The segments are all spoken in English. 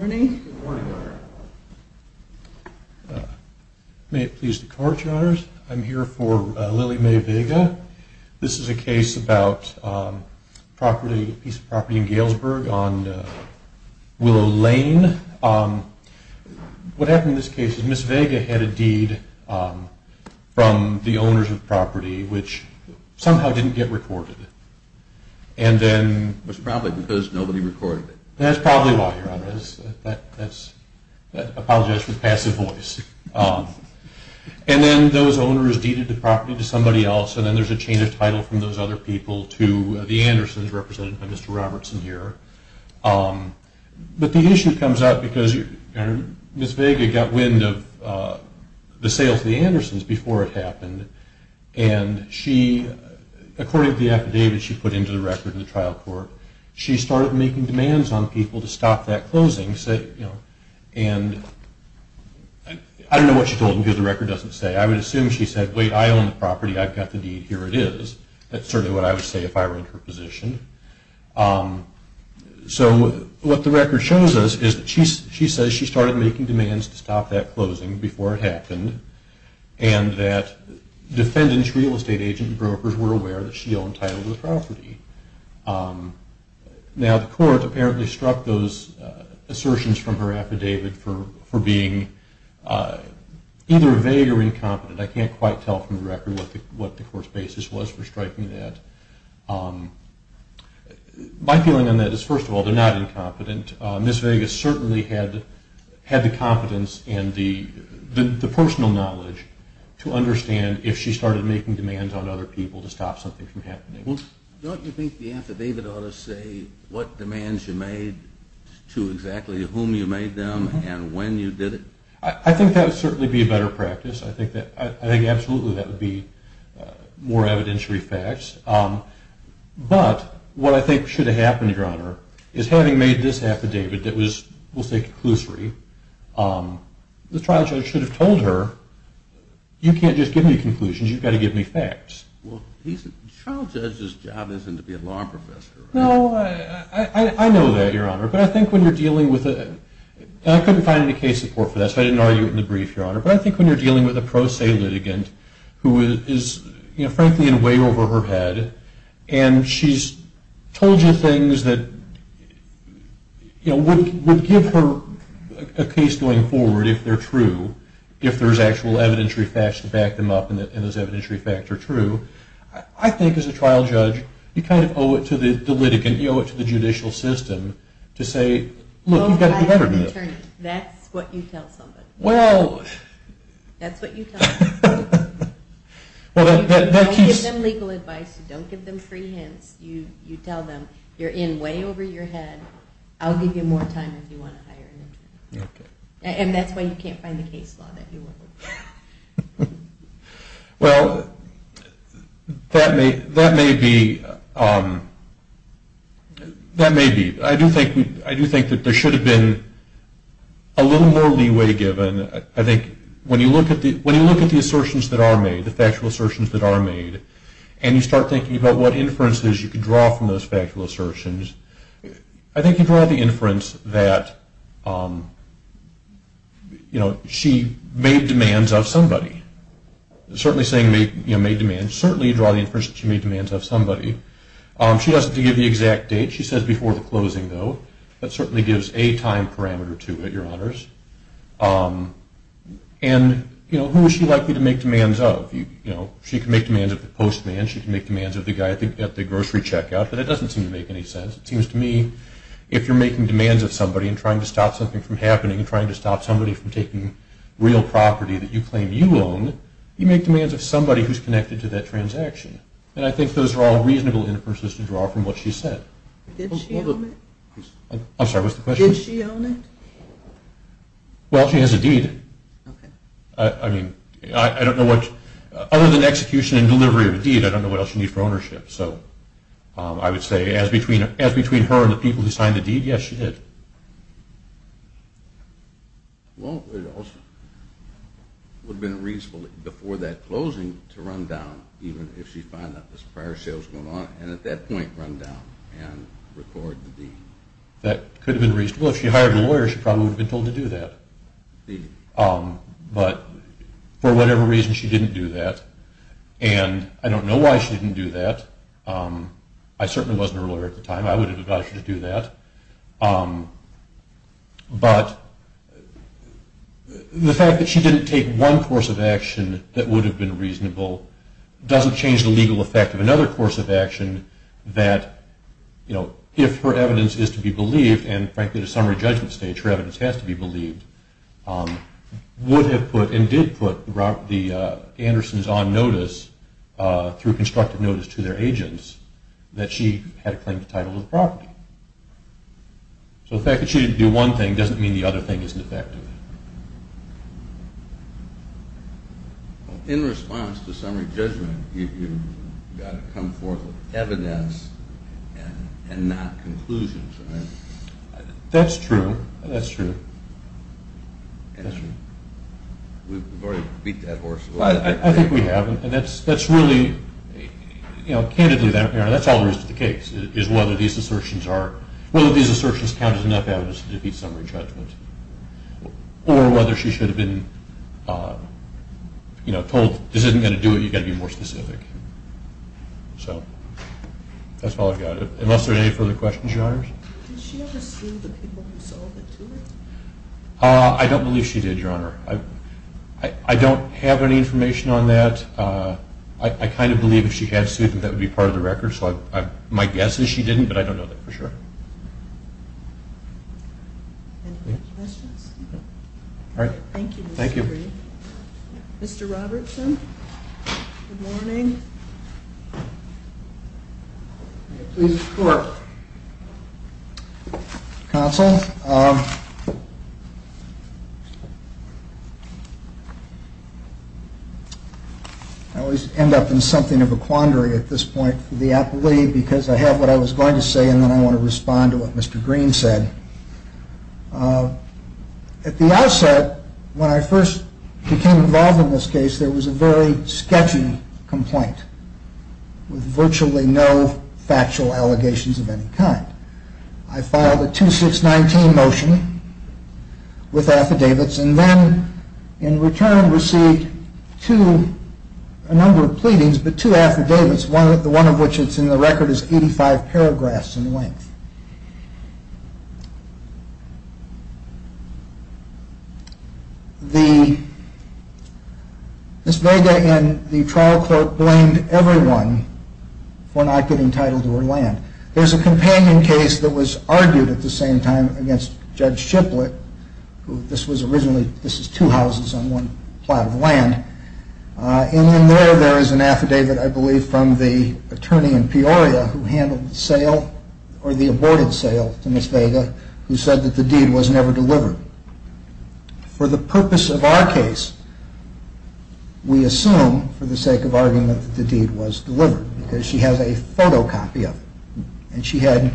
Good morning, Your Honor. May it please the Court, Your Honors. I'm here for Lily May Vega. This is a case about a piece of property in Galesburg on Willow Lane. What happened in this case is Ms. Vega had a deed from the owners of the property which somehow didn't get recorded. It was probably because nobody recorded it. That's probably why, Your Honor. I apologize for the passive voice. And then those owners deeded the property to somebody else and then there's a change of title from those other people to the Andersons represented by Mr. Robertson here. But the issue comes up because Ms. Vega got wind of the sales of the Andersons before it happened and she, according to the affidavit she put into the record in the trial court, she started making demands on people to stop that closing. And I don't know what she told them because the record doesn't say. I would assume she said, wait, I own the property. I've got the deed. Here it is. That's certainly what I would say if I were in her position. So what the record shows us is that she says she started making demands to stop that closing before it happened and that defendant's real estate agent and brokers were aware that she owned title to the property. Now the court apparently struck those assertions from her affidavit for being either vague or incompetent. I can't quite tell from the record what the court's basis was for striking that. My feeling on that is, first of all, they're not incompetent. Ms. Vega certainly had the competence and the personal knowledge to understand if she started making demands on other people to stop something from happening. Don't you think the affidavit ought to say what demands you made to exactly whom you made them and when you did it? I think that would certainly be a better practice. I think absolutely that would be more evidentiary facts. But what I think should have happened, Your Honor, is having made this affidavit that was, we'll say, conclusory, the trial judge should have told her, you can't just give me conclusions, you've got to give me facts. Well, the trial judge's job isn't to be a law professor. No, I know that, Your Honor, but I think when you're dealing with a... and I couldn't find any case support for that, so I didn't argue it in the brief, Your Honor, but I think when you're dealing with a pro se litigant who is, frankly, in way over her head and she's told you things that would give her a case going forward if they're true, if there's actual evidentiary facts to back them up and those evidentiary facts are true, I think as a trial judge you kind of owe it to the litigant, you owe it to the judicial system to say, look, you've got to do better than this. That's what you tell somebody. Well... That's what you tell somebody. Don't give them legal advice, don't give them free hints. You tell them, you're in way over your head, I'll give you more time if you want to hire an attorney. And that's why you can't find the case law that you want. Well, that may be... I do think that there should have been a little more leeway given. I think when you look at the assertions that are made, the factual assertions that are made, and you start thinking about what inferences you can draw from those factual assertions, I think you draw the inference that she made demands of somebody. Certainly saying made demands, certainly you draw the inference that she made demands of somebody. She doesn't give the exact date. She says before the closing, though. That certainly gives a time parameter to it, Your Honors. And who is she likely to make demands of? She can make demands of the postman, she can make demands of the guy at the grocery checkout, but it doesn't seem to make any sense. It seems to me if you're making demands of somebody and trying to stop something from happening and trying to stop somebody from taking real property that you claim you own, you make demands of somebody who's connected to that transaction. And I think those are all reasonable inferences to draw from what she said. Did she own it? I'm sorry, what's the question? Did she own it? Well, she has a deed. I mean, I don't know what... Other than execution and delivery of a deed, I don't know what else you need for ownership. So I would say as between her and the people who signed the deed, yes, she did. Well, it also would have been reasonable before that closing to run down, even if she found out this prior sale was going on, and at that point run down and record the deed. That could have been reasonable. If she hired a lawyer, she probably would have been told to do that. But for whatever reason, she didn't do that. And I don't know why she didn't do that. I certainly wasn't her lawyer at the time. I would have advised her to do that. But the fact that she didn't take one course of action that would have been reasonable doesn't change the legal effect of another course of action that, you know, if her evidence is to be believed, and frankly at a summary judgment stage her evidence has to be believed, would have put and did put the Andersons on notice through constructive notice to their agents that she had a claim to title of the property. So the fact that she didn't do one thing doesn't mean the other thing isn't effective. In response to summary judgment, you've got to come forth with evidence and not conclusions, right? That's true. That's true. That's true. We've already beat that horse. I think we have. And that's really, you know, candidly, that's all there is to the case, is whether these assertions count as enough evidence to defeat summary judgment or whether she should have been, you know, told this isn't going to do it. You've got to be more specific. So that's all I've got. Unless there are any further questions, Your Honors. Did she ever sue the people who sold it to her? I don't believe she did, Your Honor. I don't have any information on that. I kind of believe if she had sued, that would be part of the record. So my guess is she didn't, but I don't know that for sure. Any other questions? All right. Thank you. Mr. Robertson, good morning. Good morning. May it please the Court. Counsel, I always end up in something of a quandary at this point for the appellee because I have what I was going to say, and then I want to respond to what Mr. Green said. At the outset, when I first became involved in this case, there was a very sketchy complaint with virtually no factual allegations of any kind. I filed a 2619 motion with affidavits and then in return received two, a number of pleadings, but two affidavits, one of which is in the record as 85 paragraphs in length. The Ms. Vega and the trial court blamed everyone for not getting title to her land. There's a companion case that was argued at the same time against Judge Shiplett, who this was originally, this is two houses on one plot of land, and in there, there is an affidavit, I believe, from the attorney in Peoria who handled the sale or the aborted sale to Ms. Vega, who said that the deed was never delivered. For the purpose of our case, we assume, for the sake of argument, that the deed was delivered because she has a photocopy of it, and she had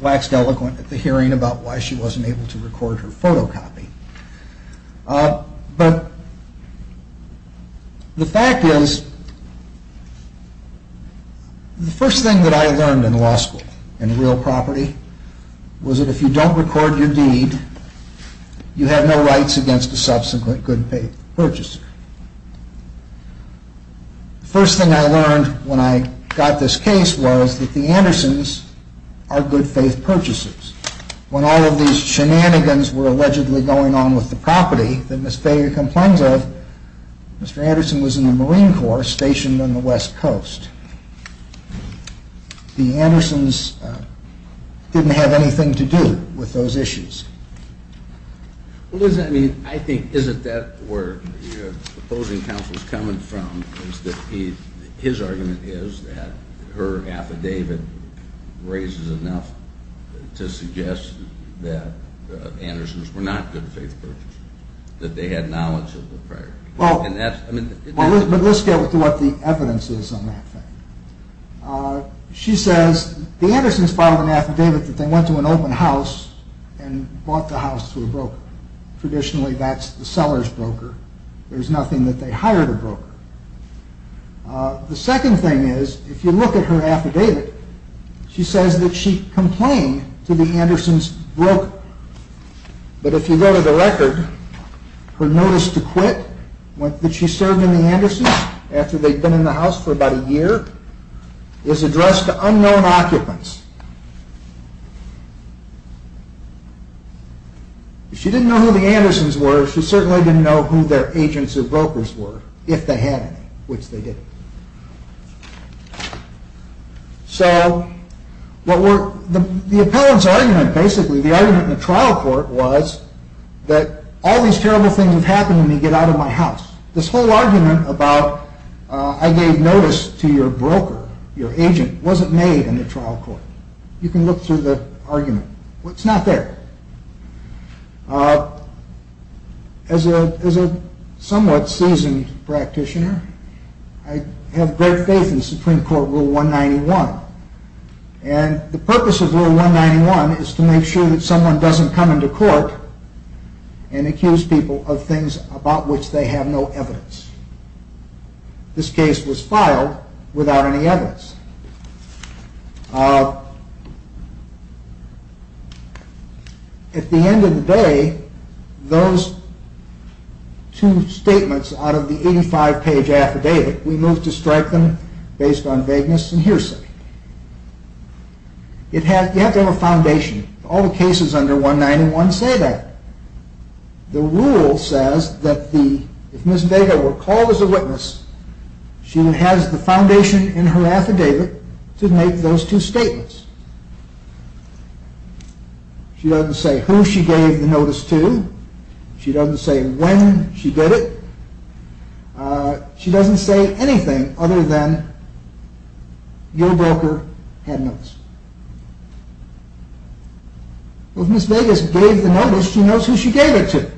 waxed eloquent at the hearing about why she wasn't able to record her photocopy. But the fact is, the first thing that I learned in law school, in real property, was that if you don't record your deed, you have no rights against a subsequent good-faith purchaser. The first thing I learned when I got this case was that the Andersons are good-faith purchasers. When all of these shenanigans were allegedly going on with the property that Ms. Vega complains of, Mr. Anderson was in the Marine Corps stationed on the West Coast. The Andersons didn't have anything to do with those issues. Well, does that mean, I think, is it that where your opposing counsel is coming from, his argument is that her affidavit raises enough to suggest that the Andersons were not good-faith purchasers, that they had knowledge of the prior. Well, let's get to what the evidence is on that thing. She says, the Andersons filed an affidavit that they went to an open house and bought the house to a broker. Traditionally, that's the seller's broker. There's nothing that they hired a broker. The second thing is, if you look at her affidavit, she says that she complained to the Andersons' broker. But if you go to the record, her notice to quit, that she served in the Andersons after they'd been in the house for about a year, is addressed to unknown occupants. If she didn't know who the Andersons were, she certainly didn't know who their agents or brokers were, if they had any, which they didn't. So, the appellant's argument, basically, the argument in the trial court was that, all these terrible things have happened to me, get out of my house. This whole argument about, I gave notice to your broker, your agent, wasn't made in the trial court. You can look through the argument. Well, it's not there. As a somewhat seasoned practitioner, I have great faith in Supreme Court Rule 191. And the purpose of Rule 191 is to make sure that someone doesn't come into court and accuse people of things about which they have no evidence. This case was filed without any evidence. At the end of the day, those two statements out of the 85-page affidavit, we moved to strike them based on vagueness and hearsay. You have to have a foundation. All the cases under 191 say that. The rule says that if Ms. Dagoe were called as a witness, she has the foundation in her affidavit to make those two statements. She doesn't say who she gave the notice to. She doesn't say when she did it. She doesn't say anything other than your broker had notice. If Ms. Dagoe gave the notice, she knows who she gave it to.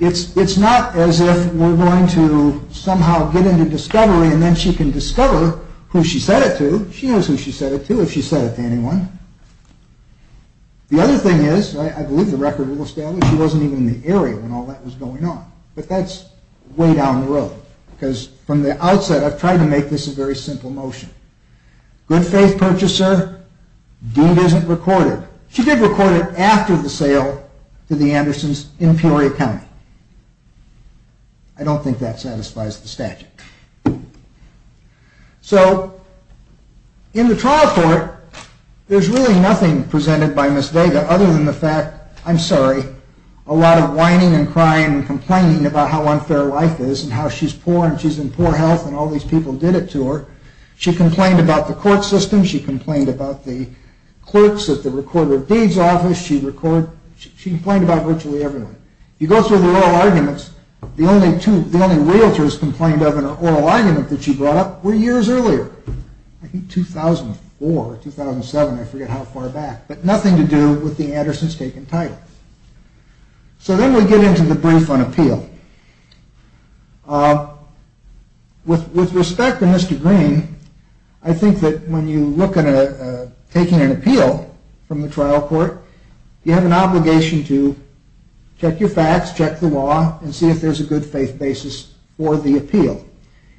It's not as if we're going to somehow get into discovery and then she can discover who she said it to. She knows who she said it to if she said it to anyone. The other thing is, I believe the record will establish, she wasn't even in the area when all that was going on. But that's way down the road. Because from the outset, I've tried to make this a very simple motion. Good faith purchaser, deed isn't recorded. She did record it after the sale to the Andersons in Peoria County. I don't think that satisfies the statute. So, in the trial court, there's really nothing presented by Ms. Dagoe other than the fact, I'm sorry, a lot of whining and crying and complaining about how unfair life is and how she's poor and she's in poor health and all these people did it to her. She complained about the court system. She complained about the clerks at the recorder of deeds office. She complained about virtually everyone. You go through the oral arguments, the only realtors complained of in an oral argument that she brought up were years earlier. I think 2004, 2007, I forget how far back. But nothing to do with the Andersons taking title. So then we get into the brief on appeal. With respect to Mr. Green, I think that when you look at taking an appeal from the trial court, you have an obligation to check your facts, check the law, and see if there's a good faith basis for the appeal.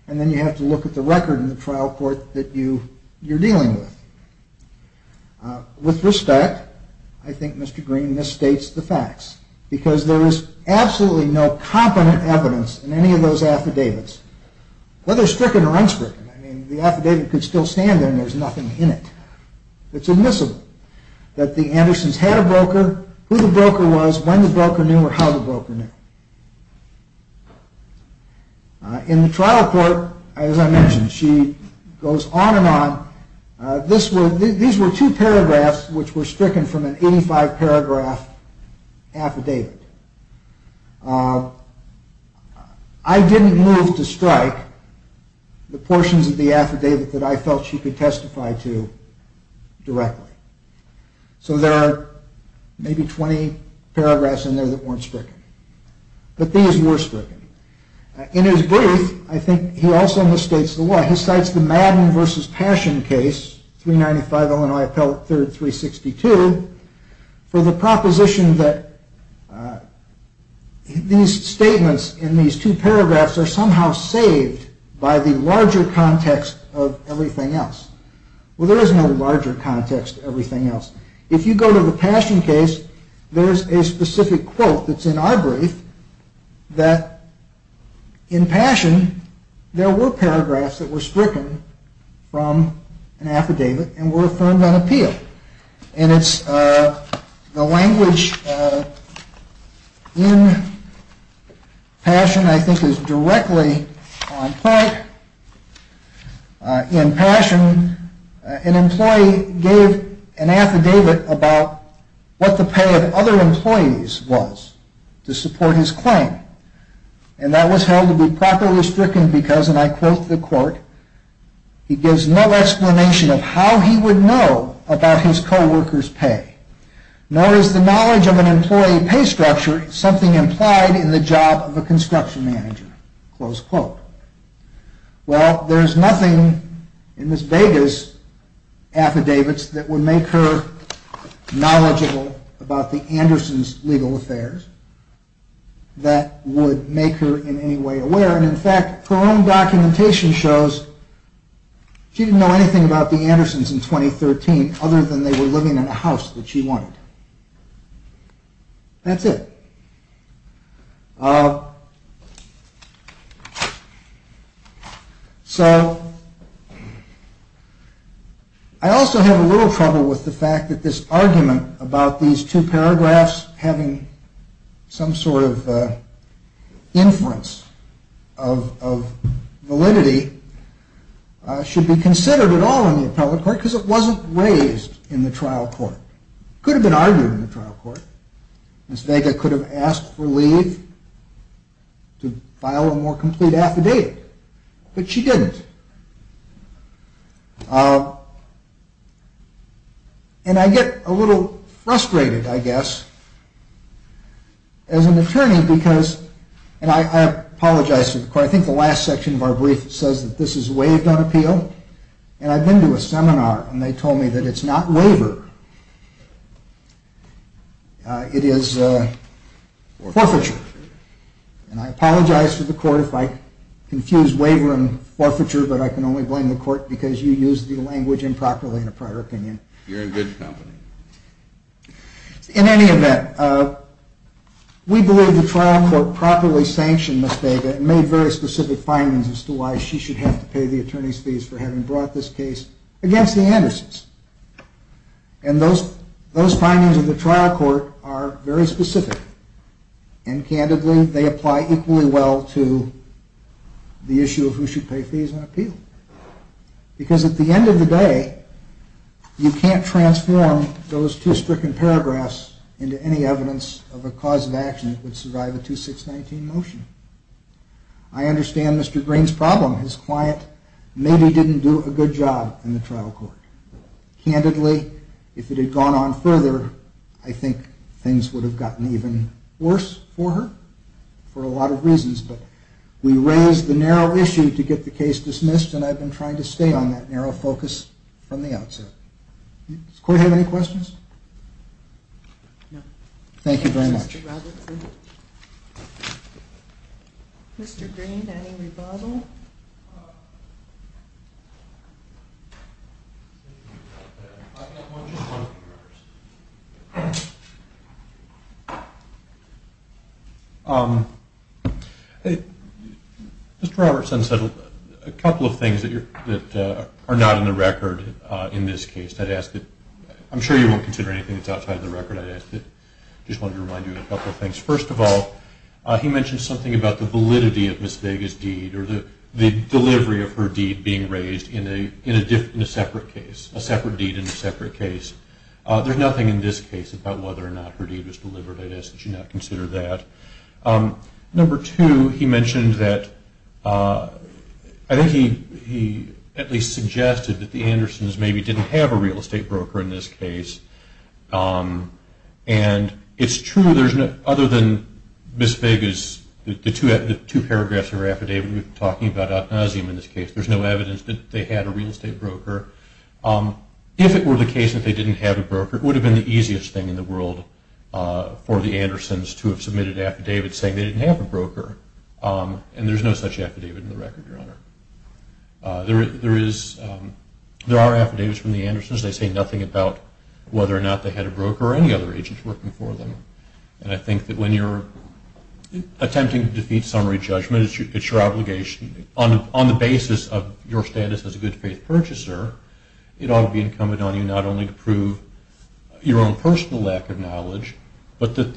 And then you have to look at the record in the trial court that you're dealing with. With respect, I think Mr. Green misstates the facts because there is absolutely no competent evidence in any of those affidavits, whether stricken or unstricken. I mean, the affidavit could still stand there and there's nothing in it. It's admissible that the Andersons had a broker, who the broker was, when the broker knew, or how the broker knew. In the trial court, as I mentioned, she goes on and on. These were two paragraphs which were stricken from an 85-paragraph affidavit. I didn't move to strike the portions of the affidavit that I felt she could testify to directly. So there are maybe 20 paragraphs in there that weren't stricken. But these were stricken. In his brief, I think he also misstates the law. He cites the Madden v. Passion case, 395 Illinois Appellate III, 362, for the proposition that these statements in these two paragraphs are somehow saved by the larger context of everything else. Well, there is no larger context to everything else. If you go to the Passion case, there's a specific quote that's in our brief that in Passion, there were paragraphs that were stricken from an affidavit and were affirmed on appeal. And it's the language in Passion, I think, is directly on point. In Passion, an employee gave an affidavit about what the pay of other employees was to support his claim. And that was held to be properly stricken because, and I quote the court, he gives no explanation of how he would know about his co-workers' pay. Nor is the knowledge of an employee pay structure something implied in the job of a construction manager. Close quote. Well, there is nothing in Ms. Vega's affidavits that would make her knowledgeable about the Andersons' legal affairs that would make her in any way aware. And in fact, her own documentation shows she didn't know anything about the Andersons in 2013 other than they were living in a house that she wanted. That's it. So, I also have a little trouble with the fact that this argument about these two paragraphs having some sort of inference of validity should be considered at all in the appellate court because it wasn't raised in the trial court. It could have been argued in the trial court. Ms. Vega could have asked for leave to file a more complete affidavit, but she didn't. And I get a little frustrated, I guess, as an attorney because, and I apologize to the court, I think the last section of our brief says that this is waived on appeal. And I've been to a seminar and they told me that it's not waiver. It is forfeiture. And I apologize to the court if I confuse waiver and forfeiture, but I can only blame the court because you used the language improperly in a prior opinion. You're in good company. In any event, we believe the trial court properly sanctioned Ms. Vega and made very specific findings as to why she should have to pay the attorney's fees for having brought this case against the Andersons. And those findings of the trial court are very specific. And candidly, they apply equally well to the issue of who should pay fees on appeal. Because at the end of the day, you can't transform those two stricken paragraphs into any evidence of a cause of action that would survive a 2619 motion. I understand Mr. Green's problem. His client maybe didn't do a good job in the trial court. Candidly, if it had gone on further, I think things would have gotten even worse for her for a lot of reasons. But we raised the narrow issue to get the case dismissed, and I've been trying to stay on that narrow focus from the outset. Does the court have any questions? No. Thank you very much. Thank you, Mr. Robertson. Mr. Green, any rebuttal? Mr. Robertson said a couple of things that are not in the record in this case. I'm sure you won't consider anything that's outside of the record. I just wanted to remind you of a couple of things. First of all, he mentioned something about the validity of Ms. Vega's deed or the delivery of her deed being raised in a separate case, a separate deed in a separate case. There's nothing in this case about whether or not her deed was delivered. I'd ask that you not consider that. Number two, he mentioned that I think he at least suggested that the Andersons maybe didn't have a real estate broker in this case. And it's true, other than Ms. Vega's two paragraphs in her affidavit talking about ad nauseam in this case, there's no evidence that they had a real estate broker. If it were the case that they didn't have a broker, it would have been the easiest thing in the world for the Andersons to have submitted an affidavit saying they didn't have a broker, There are affidavits from the Andersons. They say nothing about whether or not they had a broker or any other agents working for them. And I think that when you're attempting to defeat summary judgment, it's your obligation on the basis of your status as a good faith purchaser, it ought to be incumbent on you not only to prove your own personal lack of knowledge, but the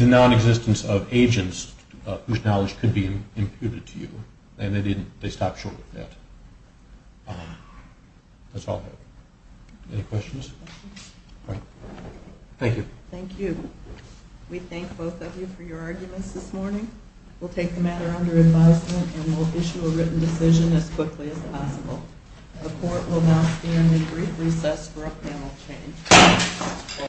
non-existence of agents whose knowledge could be imputed to you. And they stopped short of that. That's all I have. Any questions? All right. Thank you. Thank you. We thank both of you for your arguments this morning. We'll take the matter under advisement and we'll issue a written decision as quickly as possible. The court will now stand in brief recess for a panel change.